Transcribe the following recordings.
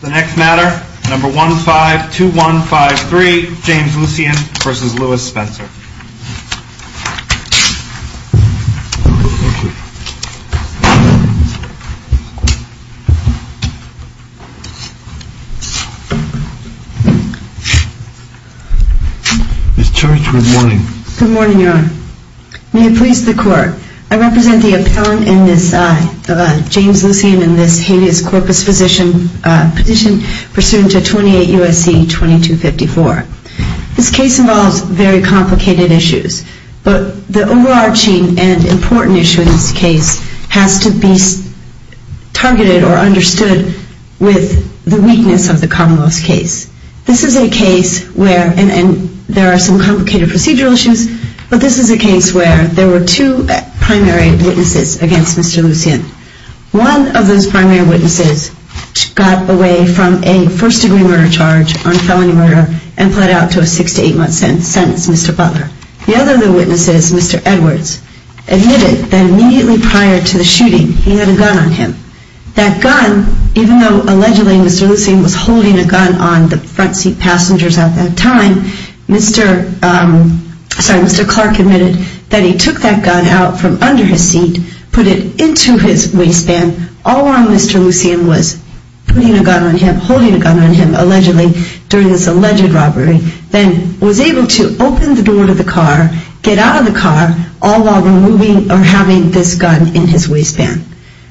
The next matter, number 152153, James Lucien v. Lewis Spencer. Good morning, Your Honor. May it please the Court, I represent the appellant in this James Lucien v. Lewis Spencer, and I'm here to present the case of James Lucien v. Lewis Spencer. This case involves very complicated issues, but the overarching and important issue in this case has to be targeted or understood with the weakness of the Commonwealth's case. This is a case where, and there are some complicated procedural issues, but this is a case where there were two primary witnesses against Mr. Lucien. One of those primary witnesses got away from a first-degree murder charge on felony murder and pled out to a six- to eight-month sentence, Mr. Butler. The other of the witnesses, Mr. Edwards, admitted that immediately prior to the shooting, he had a gun on him. That gun, even though allegedly Mr. Lucien was holding a gun on the front seat passengers at that time, Mr. Clark admitted that he took that gun out from under his seat, put it into his waistband, all while Mr. Lucien was putting a gun on him, holding a gun on him, allegedly, during this alleged robbery, then was able to open the door to the car, get out of the car, all while removing or having this gun in his waistband.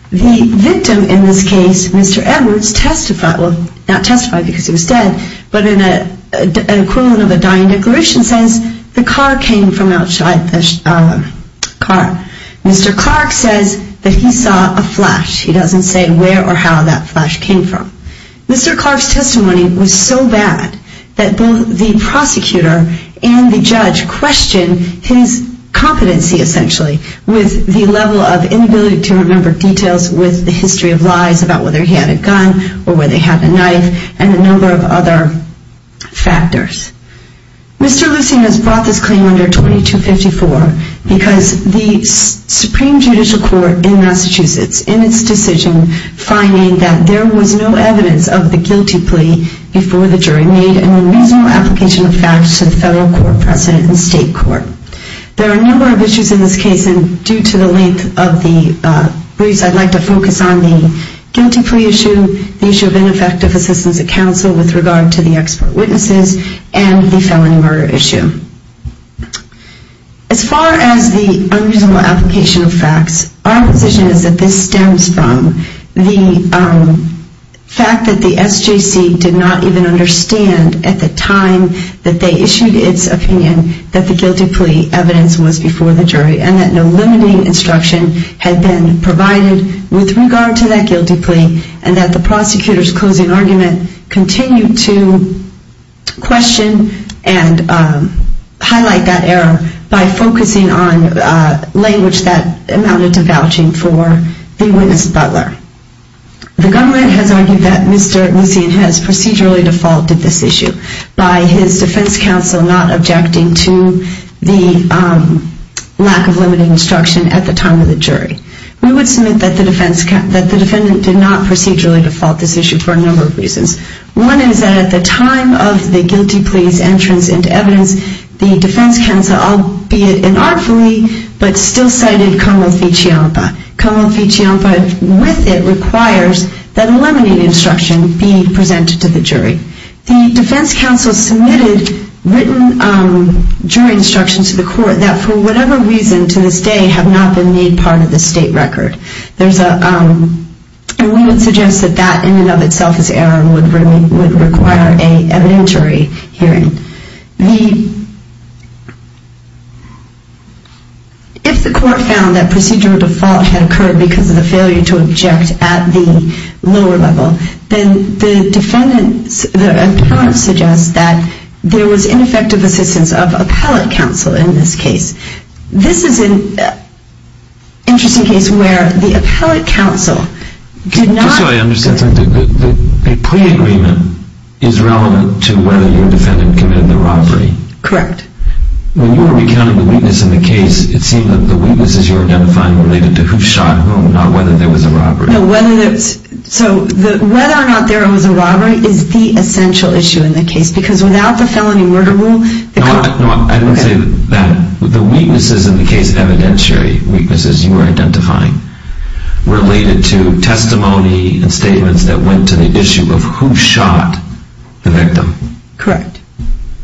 The victim in this case, Mr. Edwards, testified, well, not testified because he was dead, but in an equivalent of a dying declaration, says the car came from outside the car. Mr. Clark says that he saw a flash. He doesn't say where or how that flash came from. Mr. Clark's testimony was so bad that both the prosecutor and the judge questioned his competency, essentially, with the level of inability to remember details with the history of lies about whether he had a gun or whether he had a knife and a number of other factors. Mr. Lucien has brought this claim under 2254 because the Supreme Judicial Court in Massachusetts, in its decision, finding that there was no evidence of the guilty plea before the jury made a reasonable application of facts to the federal court, president, and state court. There are a number of issues in this case, and due to the length of the briefs, I'd like to focus on the guilty plea issue, the issue of ineffective assistance of counsel with regard to the expert witnesses, and the felony murder issue. As far as the unreasonable application of facts, our position is that this stems from the fact that the SJC did not even understand at the time that they issued its opinion that the guilty plea evidence was before the jury and that no limiting instruction had been given at the time that the jury issued its opinion. We believe that the prosecution's closing argument continued to question and highlight that error by focusing on language that amounted to vouching for the witness butler. The government has argued that Mr. Lucien has procedurally defaulted this issue by his for a number of reasons. One is that at the time of the guilty plea's entrance into evidence, the defense counsel, albeit inartfully, but still cited como fichiampa. Como fichiampa with it requires that a limiting instruction be presented to the jury. The defense counsel submitted written jury instructions to the court that for whatever reason to this day have not been made part of the state record. And we would suggest that that in and of itself is error and would require an evidentiary hearing. If the court found that procedural default had occurred because of the failure to object at the lower level, then the defendant suggests that there was ineffective assistance of appellate counsel in this case. This is an interesting case where the appellate counsel did not Just so I understand something, the plea agreement is relevant to whether your defendant committed the robbery. Correct. When you were recounting the weakness in the case, it seemed that the weaknesses you were identifying were related to who shot whom, not whether there was a robbery. So whether or not there was a robbery is the essential issue in the case because without the felony murder rule... No, I didn't say that. The weaknesses in the case, evidentiary weaknesses you were identifying, related to testimony and statements that went to the issue of who shot the victim. Correct.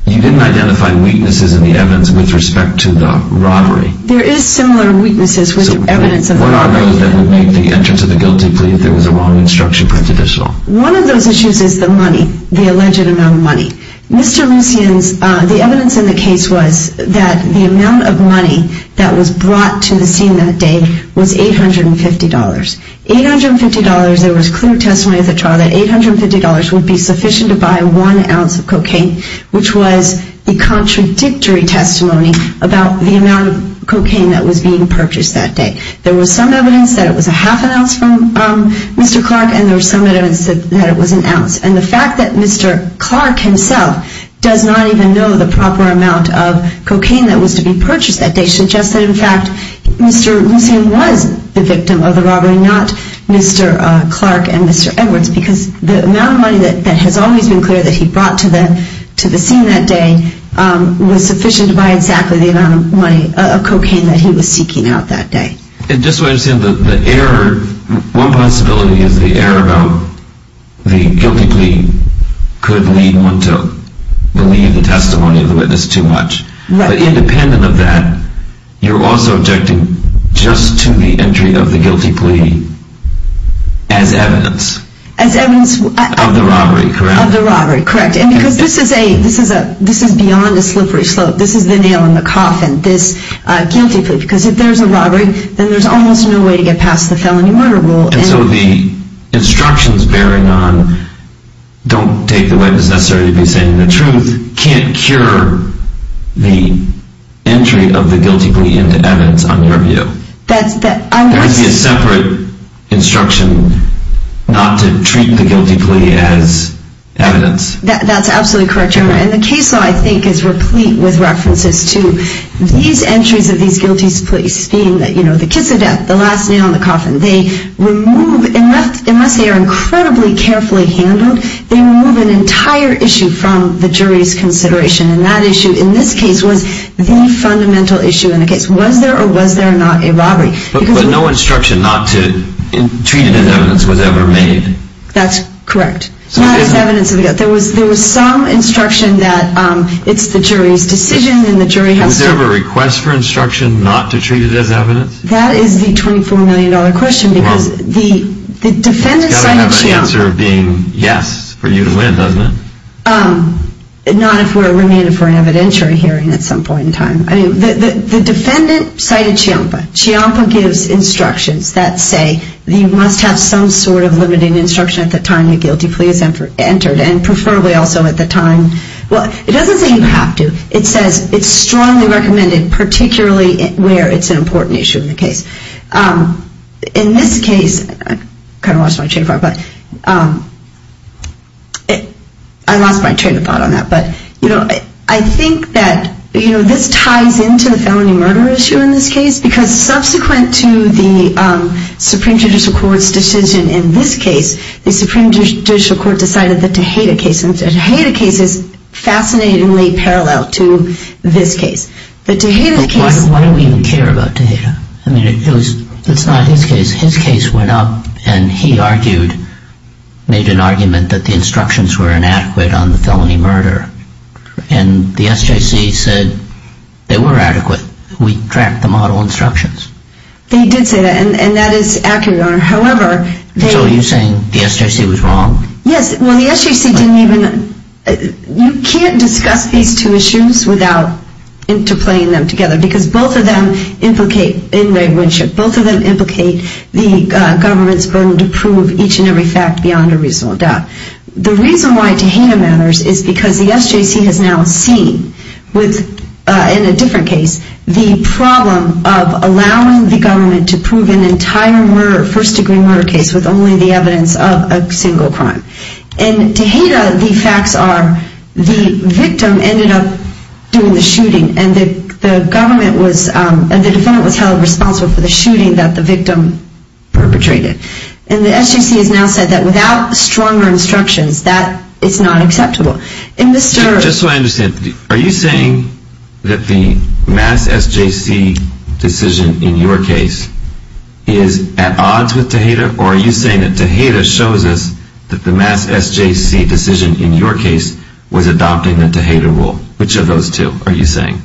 You didn't identify weaknesses in the evidence with respect to the robbery. There is similar weaknesses with evidence of the robbery. So what are those that would make the entrance of the guilty plea if there was a wrong instruction present at all? One of those issues is the money, the alleged amount of money. Mr. Lucian's, the evidence in the case was that the amount of money that was brought to the scene that day was $850. $850, there was clear testimony at the trial that $850 would be sufficient to buy one ounce of cocaine, which was a contradictory testimony about the amount of cocaine that was being purchased that day. There was some evidence that it was a half an ounce from Mr. Clark and there was some evidence that it was an ounce. And the fact that Mr. Clark himself does not even know the proper amount of cocaine that was to be purchased that day suggests that in fact Mr. Lucian was the victim of the robbery, not Mr. Clark and Mr. Edwards because the amount of money that has always been clear that he brought to the scene that day was sufficient to buy exactly the amount of cocaine that he was seeking out that day. And just so I understand, the error, one possibility is the error about the guilty plea could lead one to believe the testimony of the witness too much. But independent of that, you're also objecting just to the entry of the guilty plea as evidence. As evidence of the robbery, correct? Correct. And because this is beyond a slippery slope. This is the nail in the coffin, this guilty plea. Because if there's a robbery, then there's almost no way to get past the felony murder rule. And so the instructions bearing on, don't take the witness necessarily to be saying the truth, can't cure the entry of the guilty plea into evidence on your view? There would be a separate instruction not to treat the guilty plea as evidence. That's absolutely correct, Your Honor. And the case law I think is replete with references to these entries of these guilty pleas being the kiss of death, the last nail in the coffin. They remove, unless they are incredibly carefully handled, they remove an entire issue from the jury's consideration. And that issue in this case was the fundamental issue in the case. Was there or was there not a robbery? But no instruction not to treat it as evidence was ever made. That's correct. Not as evidence of the guilt. There was some instruction that it's the jury's decision and the jury has to... Was there ever a request for instruction not to treat it as evidence? That is the $24 million question because the defendant's side of the chain... It's got to have an answer being yes for you to win, doesn't it? Not if we're remanded for an evidentiary hearing at some point in time. The defendant cited CHIOMPA. CHIOMPA gives instructions that say you must have some sort of limiting instruction at the time the guilty plea is entered and preferably also at the time... Well, it doesn't say you have to. It says it's strongly recommended particularly where it's an important issue in the case. In this case... I kind of lost my train of thought, but... I lost my train of thought on that, but... I think that this ties into the felony murder issue in this case because subsequent to the Supreme Judicial Court's decision in this case, the Supreme Judicial Court decided the Tejada case. And the Tejada case is fascinatingly parallel to this case. The Tejada case... Why do we even care about Tejada? I mean, it's not his case. His case went up, and he argued, made an argument, that the instructions were inadequate on the felony murder. And the SJC said they were adequate. We tracked the model instructions. They did say that, and that is accurate, Your Honor. However, they... So are you saying the SJC was wrong? Yes. Well, the SJC didn't even... You can't discuss these two issues without interplaying them together because both of them implicate... Both of them implicate the government's burden to prove each and every fact beyond a reasonable doubt. The reason why Tejada matters is because the SJC has now seen, in a different case, the problem of allowing the government to prove an entire murder, first-degree murder case, with only the evidence of a single crime. In Tejada, the facts are the victim ended up doing the shooting, and the government was... And the defendant was held responsible for the shooting that the victim perpetrated. And the SJC has now said that without stronger instructions, that is not acceptable. Just so I understand, are you saying that the mass SJC decision in your case is at odds with Tejada, or are you saying that Tejada shows us that the mass SJC decision in your case was adopting the Tejada rule? Which of those two are you saying?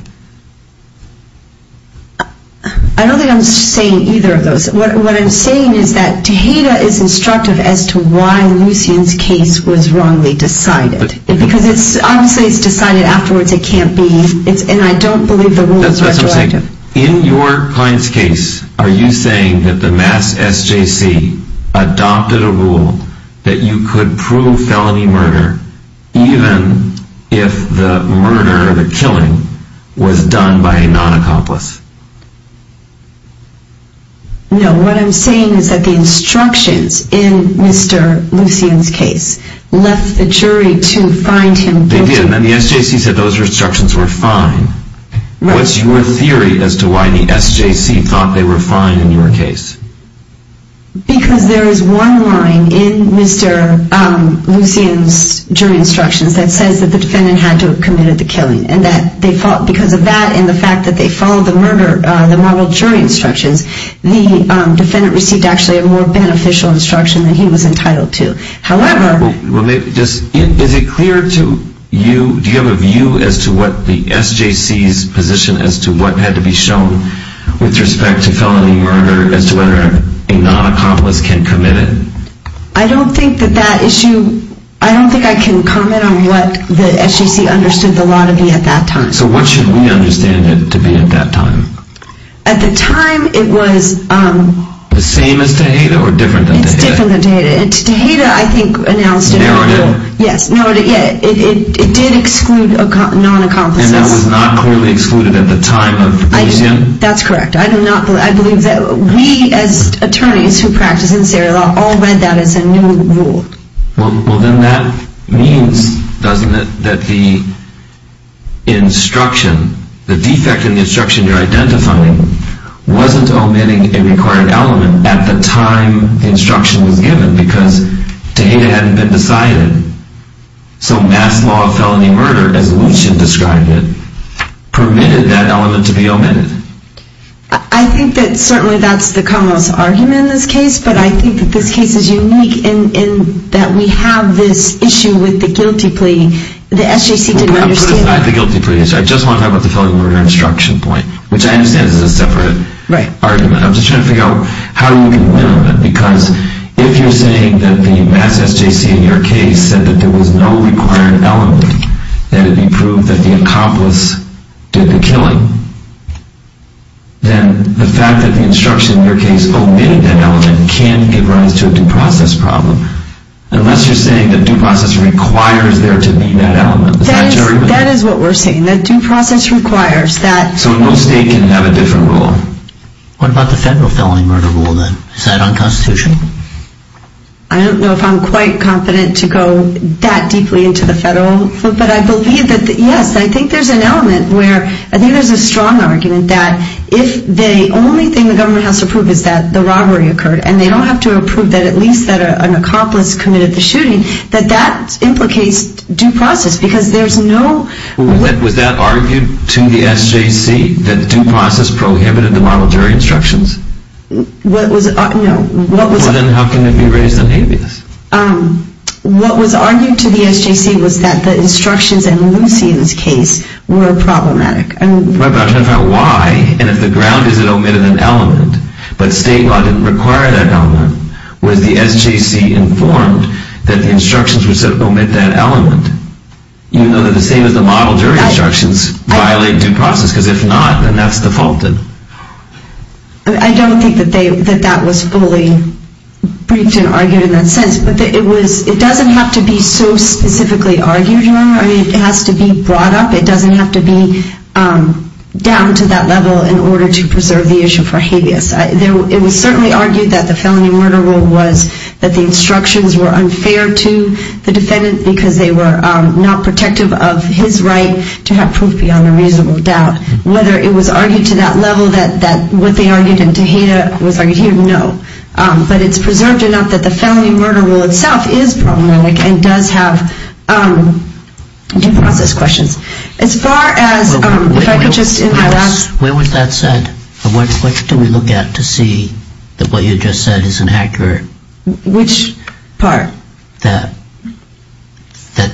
I don't think I'm saying either of those. What I'm saying is that Tejada is instructive as to why Lucien's case was wrongly decided. Because obviously it's decided afterwards. It can't be... And I don't believe the rule is retroactive. That's what I'm saying. In your client's case, are you saying that the mass SJC adopted a rule that you could prove felony murder even if the murder or the killing was done by a non-accomplice? No. What I'm saying is that the instructions in Mr. Lucien's case left the jury to find him guilty. They did. And the SJC said those instructions were fine. What's your theory as to why the SJC thought they were fine in your case? Because there is one line in Mr. Lucien's jury instructions that says that the defendant had to have committed the killing. Because of that and the fact that they followed the murder, the moral jury instructions, the defendant received actually a more beneficial instruction than he was entitled to. However... Is it clear to you... Do you have a view as to what the SJC's position as to what had to be shown with respect to felony murder as to whether a non-accomplice can commit it? I don't think that that issue... I don't think I can comment on what the SJC understood the law to be at that time. So what should we understand it to be at that time? At the time, it was... The same as Tejada or different than Tejada? It's different than Tejada. Tejada, I think, announced it... Narrowed it? Yes, narrowed it. It did exclude non-accomplices. And that was not clearly excluded at the time of Lucien? That's correct. I do not... I believe that... We as attorneys who practice in this area all read that as a new rule. Well, then that means, doesn't it, that the instruction... the defect in the instruction you're identifying wasn't omitting a required element at the time the instruction was given because Tejada hadn't been decided. So mass law of felony murder, as Lucien described it, permitted that element to be omitted. I think that certainly that's the commonwealth's argument in this case, but I think that this case is unique in that we have this issue with the guilty plea. The SJC didn't understand that. I just want to talk about the felony murder instruction point, which I understand is a separate argument. I'm just trying to figure out how you can win on that because if you're saying that the mass SJC in your case said that there was no required element, that it be proved that the accomplice did the killing, then the fact that the instruction in your case omitting that element can give rise to a due process problem. Unless you're saying that due process requires there to be that element. That is what we're saying, that due process requires that... So no state can have a different rule. What about the federal felony murder rule, then? Is that unconstitutional? I don't know if I'm quite confident to go that deeply into the federal... But I believe that, yes, I think there's an element where I think there's a strong argument that if the only thing the government has to prove is that the robbery occurred, and they don't have to prove that at least an accomplice committed the shooting, that that implicates due process because there's no... Was that argued to the SJC that due process prohibited the model jury instructions? What was... No. Then how can it be raised on habeas? What was argued to the SJC was that the instructions in Lucy's case were problematic. But I'm trying to find out why, and if the ground is it omitted an element but state law didn't require that element, was the SJC informed that the instructions were said to omit that element, even though they're the same as the model jury instructions, violate due process? Because if not, then that's defaulted. I don't think that that was fully briefed and argued in that sense. But it doesn't have to be so specifically argued. I mean, it has to be brought up. It doesn't have to be down to that level in order to preserve the issue for habeas. It was certainly argued that the felony murder rule was that the instructions were unfair to the defendant because they were not protective of his right to have proof beyond a reasonable doubt. Whether it was argued to that level that what they argued in Tejeda was argued here, no. But it's preserved enough that the felony murder rule itself is problematic and does have due process questions. As far as... Where was that said? What do we look at to see that what you just said is inaccurate? Which part? That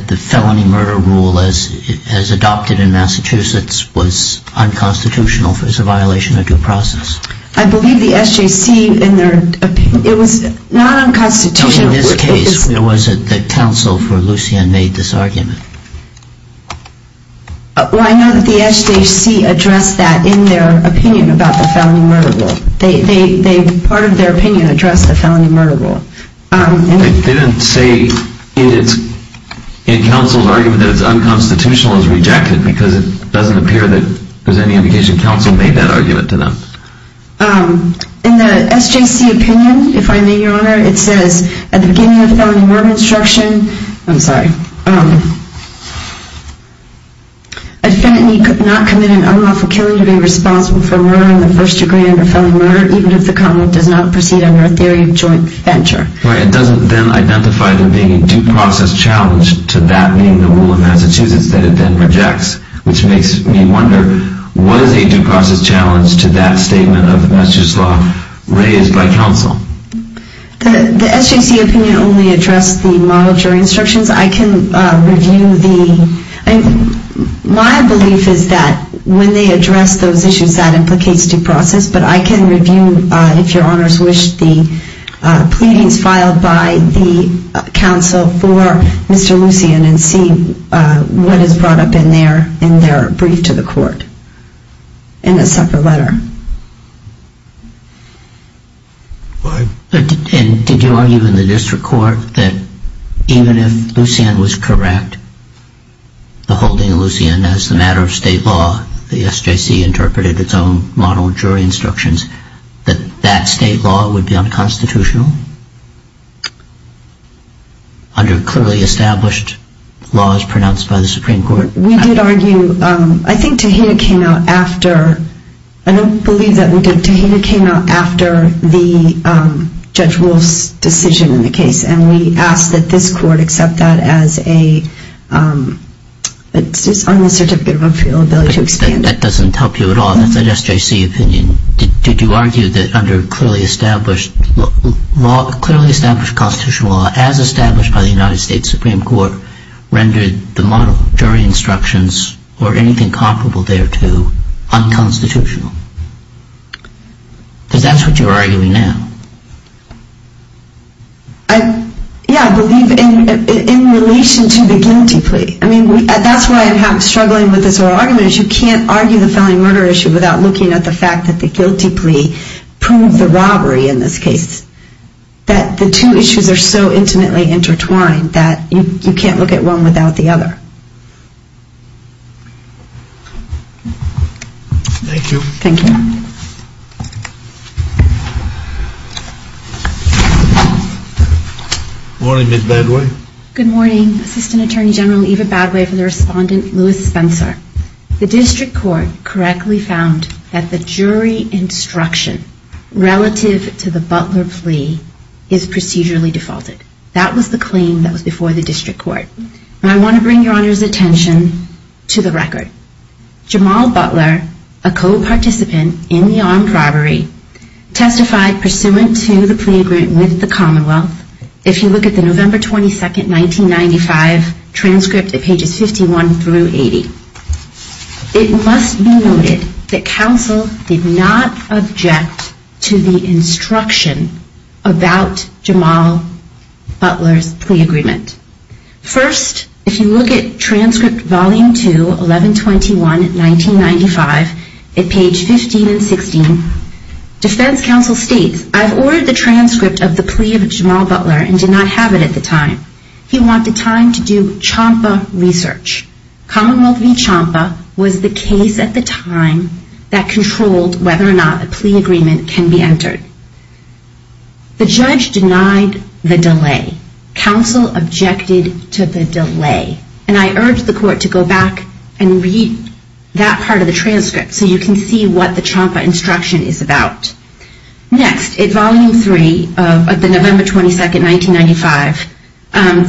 the felony murder rule, as adopted in Massachusetts, was unconstitutional, was a violation of due process. I believe the SJC, in their opinion... It was not unconstitutional. In this case, was it that counsel for Lucien made this argument? Well, I know that the SJC addressed that in their opinion about the felony murder rule. Part of their opinion addressed the felony murder rule. They didn't say in counsel's argument that it's unconstitutional as rejected because it doesn't appear that there's any indication that counsel made that argument to them. In the SJC opinion, if I may, Your Honor, it says, at the beginning of felony murder instruction... I'm sorry. A defendant need not commit an unlawful killing to be responsible for murdering the first degree under felony murder, even if the conduct does not proceed under a theory of joint venture. Right, it doesn't then identify there being a due process challenge to that being the rule in Massachusetts that it then rejects, which makes me wonder, what is a due process challenge to that statement of the Massachusetts law raised by counsel? The SJC opinion only addressed the model jury instructions. I can review the... My belief is that when they address those issues, that implicates due process, but I can review, if Your Honor's wish, the pleadings filed by the counsel for Mr. Lucien and see what is brought up in their opinion. In their brief to the court, in a separate letter. And did you argue in the district court that even if Lucien was correct, beholding Lucien as the matter of state law, the SJC interpreted its own model jury instructions, that that state law would be unconstitutional? Under clearly established laws pronounced by the Supreme Court? We did argue, I think Tehita came out after... I don't believe that we did. Tehita came out after the Judge Wolff's decision in the case and we asked that this court accept that as a... It's just on the Certificate of Unfeasibility to expand... That doesn't help you at all. That's an SJC opinion. Did you argue that under clearly established... Clearly established constitutional law that as established by the United States Supreme Court rendered the model jury instructions or anything comparable there to unconstitutional? Because that's what you're arguing now. Yeah, I believe in relation to the guilty plea. That's why I'm struggling with this whole argument is you can't argue the felony murder issue without looking at the fact that the guilty plea proved the robbery in this case. That the two issues are so intimately intertwined that you can't look at one without the other. Thank you. Good morning, Ms. Badway. Good morning, Assistant Attorney General Eva Badway for the respondent Louis Spencer. The District Court correctly found that the jury instruction relative to the Butler plea is procedurally defaulted. That was the claim that was before the District Court. I want to bring Your Honor's attention to the record. Jamal Butler, a co-participant in the armed robbery testified pursuant to the plea agreement with the Commonwealth. If you look at the November 22, 1995 transcript at pages 51 through 80, it must be noted that counsel did not object to the instruction about Jamal Butler's plea agreement. First, if you look at transcript volume 2, 1121, 1995 at page 15 and 16, defense counsel states, I've ordered the transcript of the plea of Jamal Butler and did not have it at the time. He wanted time to do CHAMPA research. Commonwealth v. CHAMPA was the case at the time that controlled whether or not a plea agreement can be entered. The judge denied the delay. Counsel objected to the delay. And I urge the court to go back and read that part of the transcript so you can see what the CHAMPA instruction is about. Next, at volume 3 of the November 22, 1995,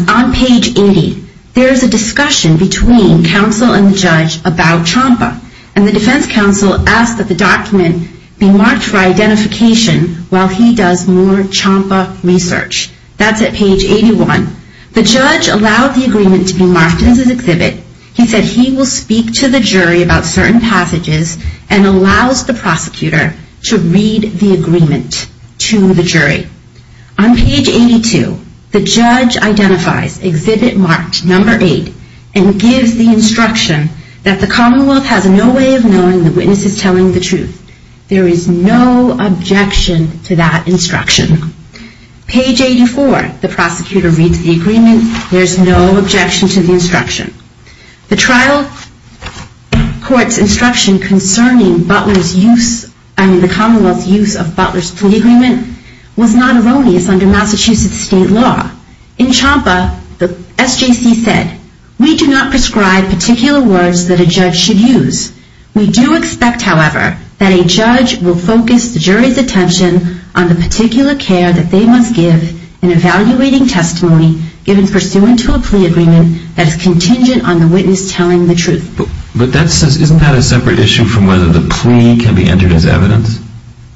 on page 80, there is a discussion between counsel and the judge about CHAMPA. And the defense counsel asks that the document be marked for identification while he does more CHAMPA research. That's at page 81. The judge allowed the agreement to be marked as an exhibit. He said he will speak to the jury about certain passages and allows the prosecutor to read the agreement to the jury. On page 82, the judge identifies exhibit marked number 8 and gives the instruction that the Commonwealth has no way of knowing the witness is telling the truth. There is no objection to that instruction. Page 84, the prosecutor reads the agreement. There is no objection to the instruction. The trial court's instruction concerning the Commonwealth's use of Butler's plea agreement was not erroneous under Massachusetts state law. In CHAMPA, the SJC said, we do not prescribe particular words that a judge should use. We do expect, however, that a judge will focus the jury's attention on the particular care that they must give in evaluating testimony given pursuant to a plea agreement that is contingent on the witness telling the truth. Isn't that a separate issue from whether the plea can be entered as evidence?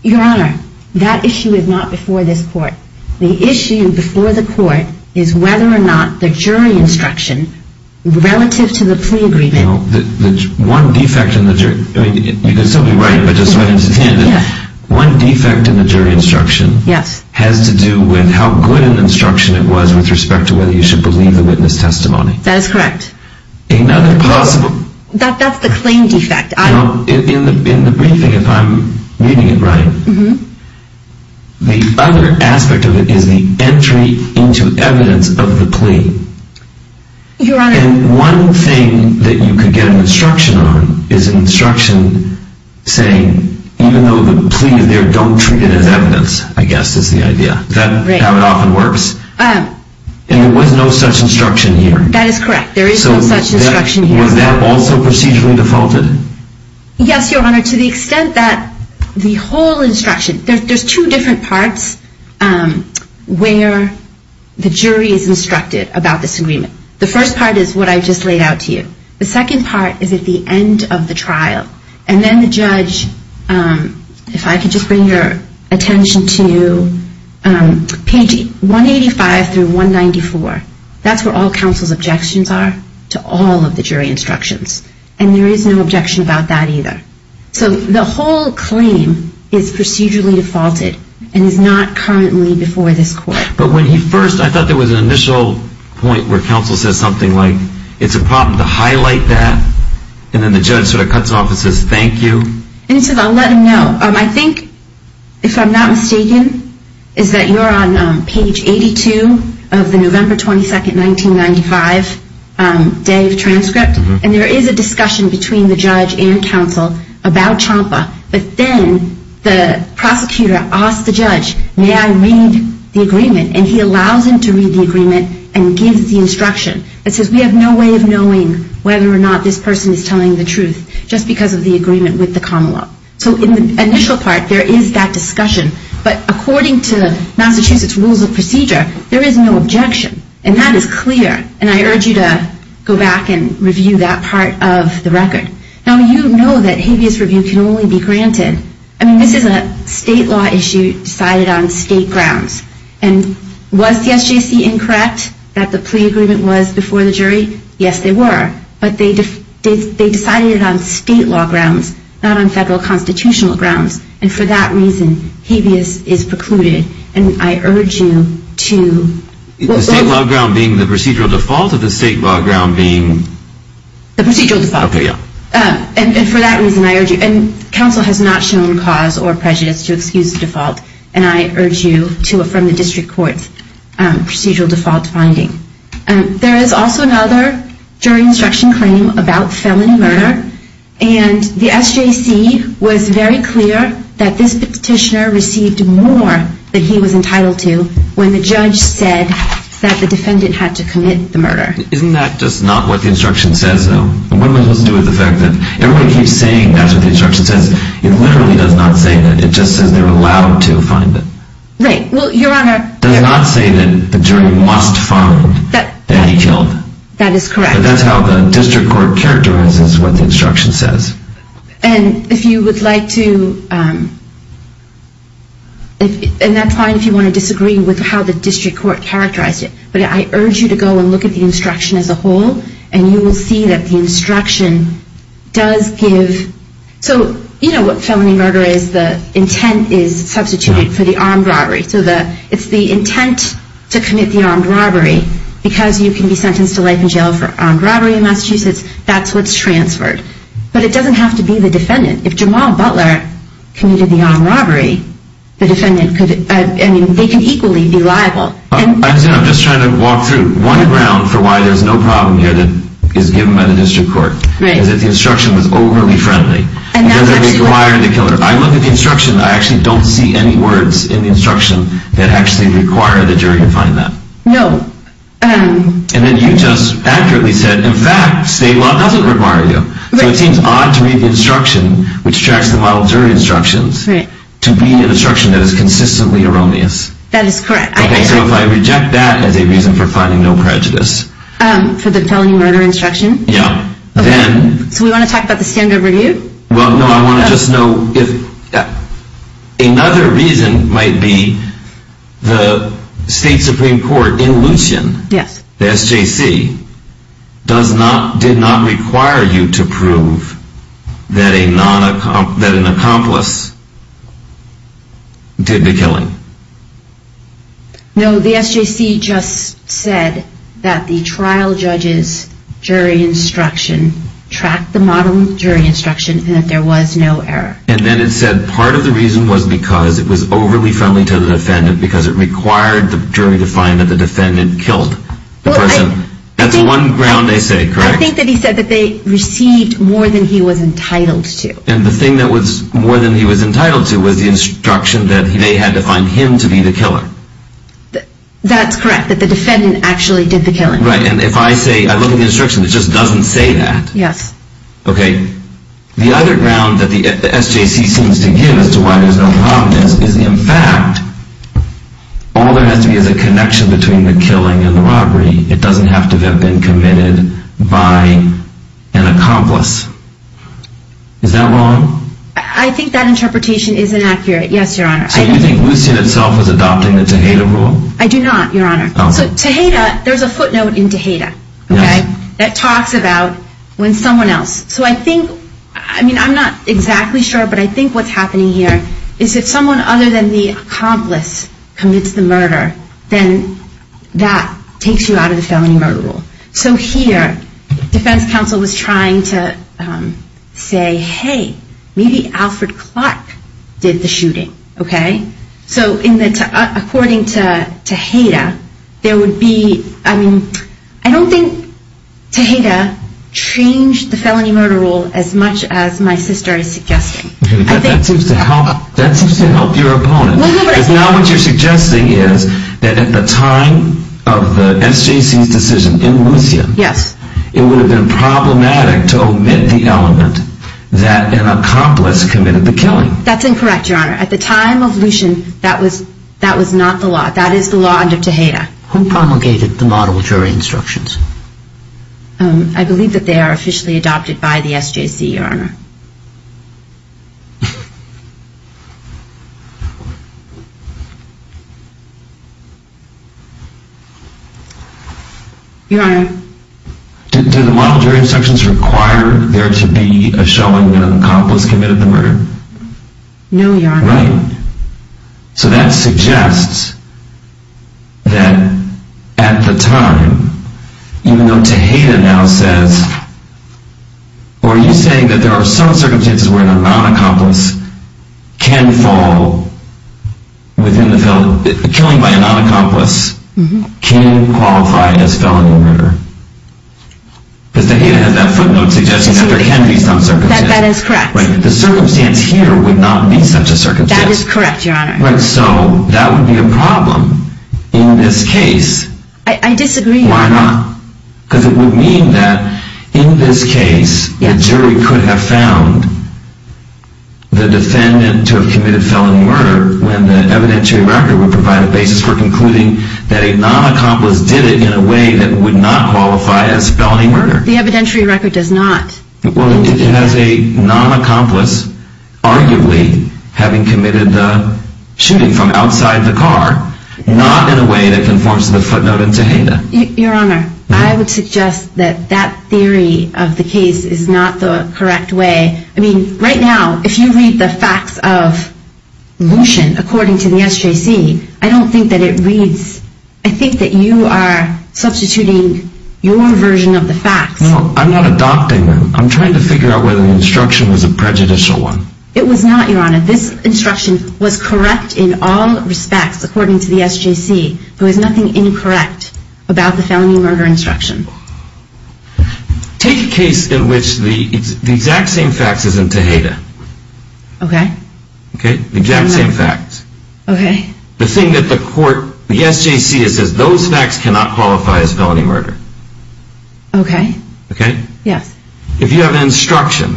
Your Honor, that issue is not before this court. The issue before the court is whether or not the jury instruction relative to the plea agreement One defect in the jury instruction has to do with how good an instruction it was with respect to whether you should believe the witness testimony. That is correct. That's the claim defect. In the briefing, if I'm reading it right, the other aspect of it is the entry into evidence of the plea. And one thing that you can get an instruction on is an instruction saying even though the plea is there, don't treat it as evidence, I guess is the idea. And there was no such instruction here. That is correct. Was that also procedurally defaulted? Yes, Your Honor, to the extent that the whole instruction there's two different parts where the jury is instructed about this agreement. The first part is what I just laid out to you. The second part is at the end of the trial. And then the judge, if I could just bring your attention to page 185 through 194. That's where all counsel's objections are to all of the jury instructions. And there is no objection about that either. So the whole claim is procedurally defaulted and is not currently before this court. But when he first, I thought there was an initial point where counsel says something like it's a problem to highlight that and then the judge sort of cuts off and says thank you. And he says I'll let him know. I think if I'm not mistaken is that you're on page 82 of the November 22, 1995 day of transcript. And there is a discussion between the judge and counsel about CHAMPA. But then the prosecutor asks the judge may I read the agreement? And he allows him to read the agreement and gives the instruction. It says we have no way of knowing whether or not this person is telling the truth just because of the agreement with the Commonwealth. So in the initial part there is that discussion. But according to Massachusetts Rules of Procedure there is no objection. And that is clear. And I urge you to go back and review that part of the record. Now you know that habeas review can only be granted. I mean this is a state law issue decided on state grounds. And was the SJC incorrect that the plea agreement was before the jury? Yes they were. But they decided it on state law grounds not on federal constitutional grounds. And for that reason habeas is precluded. And I urge you to... The state law ground being the procedural default? The procedural default. And for that reason I urge you and counsel has not shown cause or prejudice to excuse the default. And I urge you to affirm the district court's procedural default finding. There is also another jury instruction claim about felony murder. And the SJC was very clear that this petitioner received more than he was entitled to when the judge said that the defendant had to commit the murder. Isn't that just not what the instruction says though? Everyone keeps saying that's what the instruction says it literally does not say that. It just says they're allowed to find it. It does not say that the jury must find that he killed. That is correct. But that's how the district court characterizes what the instruction says. And if you would like to... But I urge you to go and look at the instruction as a whole and you will see that the instruction does give... So you know what felony murder is the intent is substituted for the armed robbery. So it's the intent to commit the armed robbery because you can be sentenced to life in jail for armed robbery in Massachusetts that's what's transferred. But it doesn't have to be the defendant. If Jamal Butler committed the armed robbery the defendant could... they can equally be liable. I'm just trying to walk through one ground for why there's no problem here that is given by the district court is that the instruction was overly friendly and doesn't require the killer. I look at the instruction and I actually don't see any words in the instruction that actually require the jury to find that. And then you just accurately said in fact state law doesn't require you. So it seems odd to read the instruction which tracks the model jury instructions to read an instruction that is consistently erroneous. That is correct. So if I reject that as a reason for finding no prejudice. For the felony murder instruction? Yeah. So we want to talk about the standard review? Well no, I want to just know if... Another reason might be the state supreme court in Lucien, SJC did not require you to prove that an accomplice did the killing. No, the SJC just said that the trial judge's jury instruction tracked the model jury instruction and that there was no error. And then it said part of the reason was because it was overly friendly to the defendant because it required the jury to find that the defendant killed the person. That's one ground they said, correct? I think that he said that they received more than he was entitled to. And the thing that was more than he was entitled to was the instruction that they had to find him to be the killer. That's correct, that the defendant actually did the killing. Right, and if I say, I look at the instruction, it just doesn't say that. Yes. Okay, the other ground that the SJC seems to give as to why there's no prominence is in fact all there has to be is a connection between the killing and the robbery. It doesn't have to have been committed by an accomplice. Is that wrong? I think that interpretation is inaccurate, yes, your honor. So you think Lucien itself was adopting the Tejada rule? I do not, your honor. So Tejada, there's a footnote in Tejada that talks about when someone else, so I think, I'm not exactly sure, but I think what's happening here is if someone other than the accomplice commits the murder, then that takes you out of the felony murder rule. So here, defense counsel was trying to say, hey, maybe Alfred Clark did the shooting, okay? So according to Tejada, there would be, I mean, I don't think Tejada changed the felony murder rule as much as my sister is suggesting. But that seems to help your opponent. Because now what you're suggesting is that at the time of the SJC's decision in Lucien, it would have been problematic to omit the element that an accomplice committed the killing. That's incorrect, your honor. At the time of Lucien, that was not the law. That is the law under Tejada. Who promulgated the model jury instructions? I believe that they are officially adopted by the SJC, your honor. Your honor? Did the model jury instructions require there to be a showing that an accomplice committed the murder? No, your honor. Right. So that suggests that at the time, even though Tejada now says, or are you saying that there are some circumstances where a non-accomplice can fall within the felony, killing by a non-accomplice can qualify as felony murder? Because Tejada has that footnote suggestion that there can be some circumstances. That is correct. The circumstance here would not be such a circumstance. That is correct, your honor. So that would be a problem in this case. I disagree. Why not? Because it would mean that in this case, a jury could have found the defendant to have committed felony murder when the evidentiary record would provide a basis for concluding that a non-accomplice did it in a way that would not qualify as felony murder. The evidentiary record does not. Well, it has a non-accomplice arguably having committed the shooting from outside the car, not in a way that conforms to the footnote in Tejada. Your honor, I would suggest that that theory of the case is not the correct way. I mean, right now, if you read the facts of Lushen according to the SJC, I don't think that it reads... I think that you are substituting your version of the facts. No, I'm not adopting them. I'm trying to figure out whether the instruction was a prejudicial one. It was not, your honor. This instruction was correct in all respects according to the SJC. There was nothing incorrect about the felony murder instruction. Take a case in which the exact same facts is in Tejada. Okay. The exact same facts. The thing that the court, the SJC, says those facts cannot qualify as felony murder. Okay. If you have an instruction,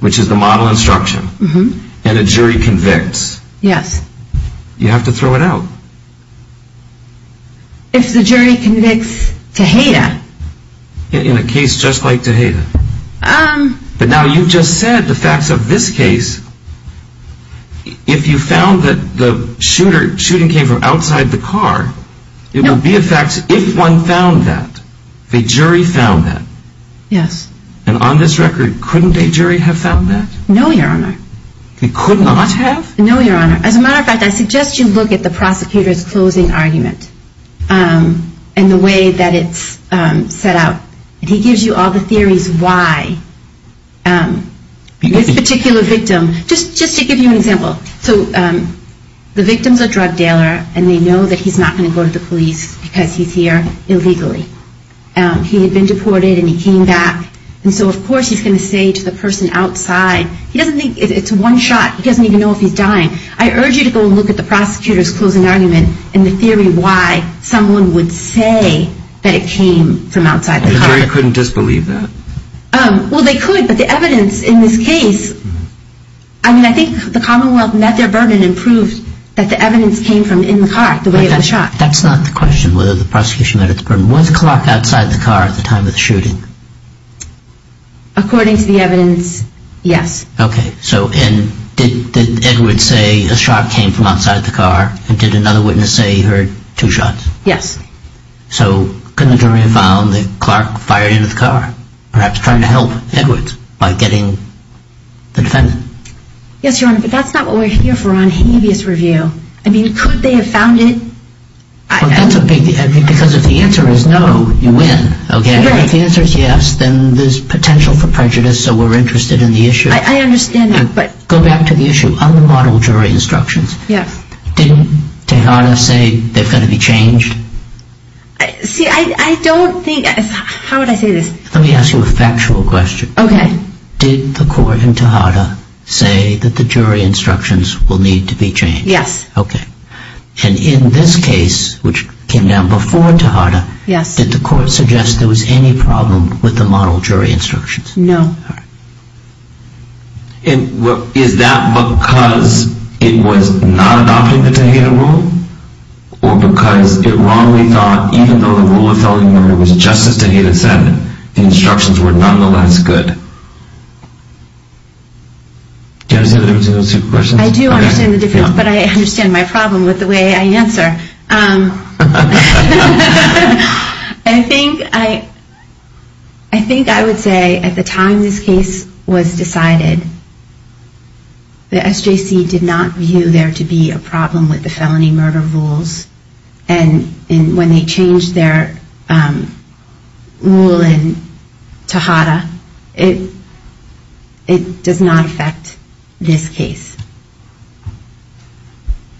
which is the model instruction, and a jury convicts, you have to throw it out. If the jury convicts Tejada. In a case just like Tejada. But now you've just said the facts of this case. If you found that the shooting came from outside the car, it would be a fact if one found that. If a jury found that. Yes. And on this record, couldn't a jury have found that? No, your honor. They could not have? No, your honor. As a matter of fact, I suggest you look at the prosecutor's closing argument. And the way that it's set out. He gives you all the theories why this particular victim just to give you an example. The victim is a drug dealer and they know that he's not going to go to the police because he's here illegally. He had been deported and he came back. And so of course he's going to say to the person outside he doesn't think it's one shot. He doesn't even know if he's dying. I urge you to go look at the prosecutor's closing argument and the theory why someone would say that it came from outside the car. The jury couldn't disbelieve that? Well, they could, but the evidence in this case I mean, I think the Commonwealth met their burden and proved that the evidence came from in the car, the way it was shot. That's not the question, whether the prosecution met its burden. Was Clark outside the car at the time of the shooting? According to the evidence, yes. Okay, so did Edwards say a shot came from outside the car and did another witness say he heard two shots? Yes. So could the jury have found that Clark fired into the car? Perhaps trying to help Edwards by getting the defendant? Yes, Your Honor, but that's not what we're here for on habeas review. I mean, could they have found it? Because if the answer is no, you win. If the answer is yes, then there's potential for prejudice so we're interested in the issue. I understand that, but... Go back to the issue. On the model jury instructions, didn't Tejada say they've got to be changed? See, I don't think... How would I say this? Let me ask you a factual question. Did the court in Tejada say that the jury instructions will need to be changed? Yes. Okay, and in this case, which came down before Tejada, did the court suggest there was any problem with the model jury instructions? No. Is that because it was not adopting the Tejada rule? Or because it wrongly thought even though the rule of felony murder was just as Tejada said, the instructions were nonetheless good? Do you understand the difference in those two questions? I do understand the difference, but I understand my problem with the way I answer. I think I would say at the time this case was decided, the SJC did not view there to be a problem with the felony murder rules and when they changed their rule in Tejada, it does not affect this case.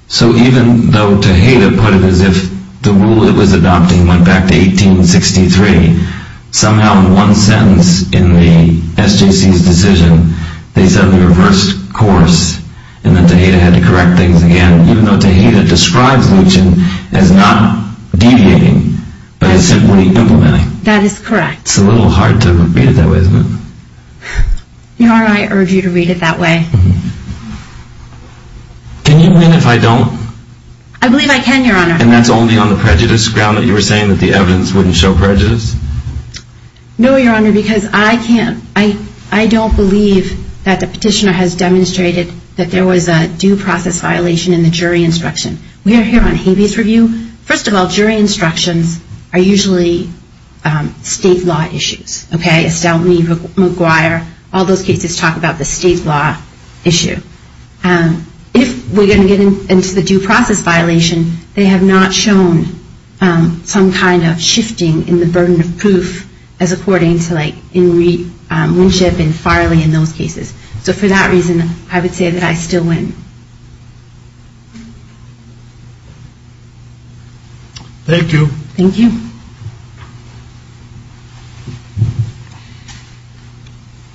So even though Tejada put it as if the rule it was adopting went back to 1863, somehow in one sentence in the SJC's decision, they suddenly reversed course and then Tejada had to correct things again, even though Tejada describes Luchin as not deviating, but as simply implementing. That is correct. It's a little hard to read it that way, isn't it? Your Honor, I urge you to read it that way. Can you mean if I don't? I believe I can, Your Honor. And that's only on the prejudice ground that you were saying that the evidence wouldn't show prejudice? No, Your Honor, because I can't, I don't believe that the petitioner has demonstrated that there was a due process violation in the jury instruction. We are here on habeas review. First of all, jury instructions are usually state law issues. Estelle, McGuire, all those cases talk about the state law issue. If we're going to get into the due process violation, they have not shown some kind of shifting in the burden of proof as according to In Re Winship and Farley in those cases. So for that reason, I would say that I still win. Thank you. Thank you.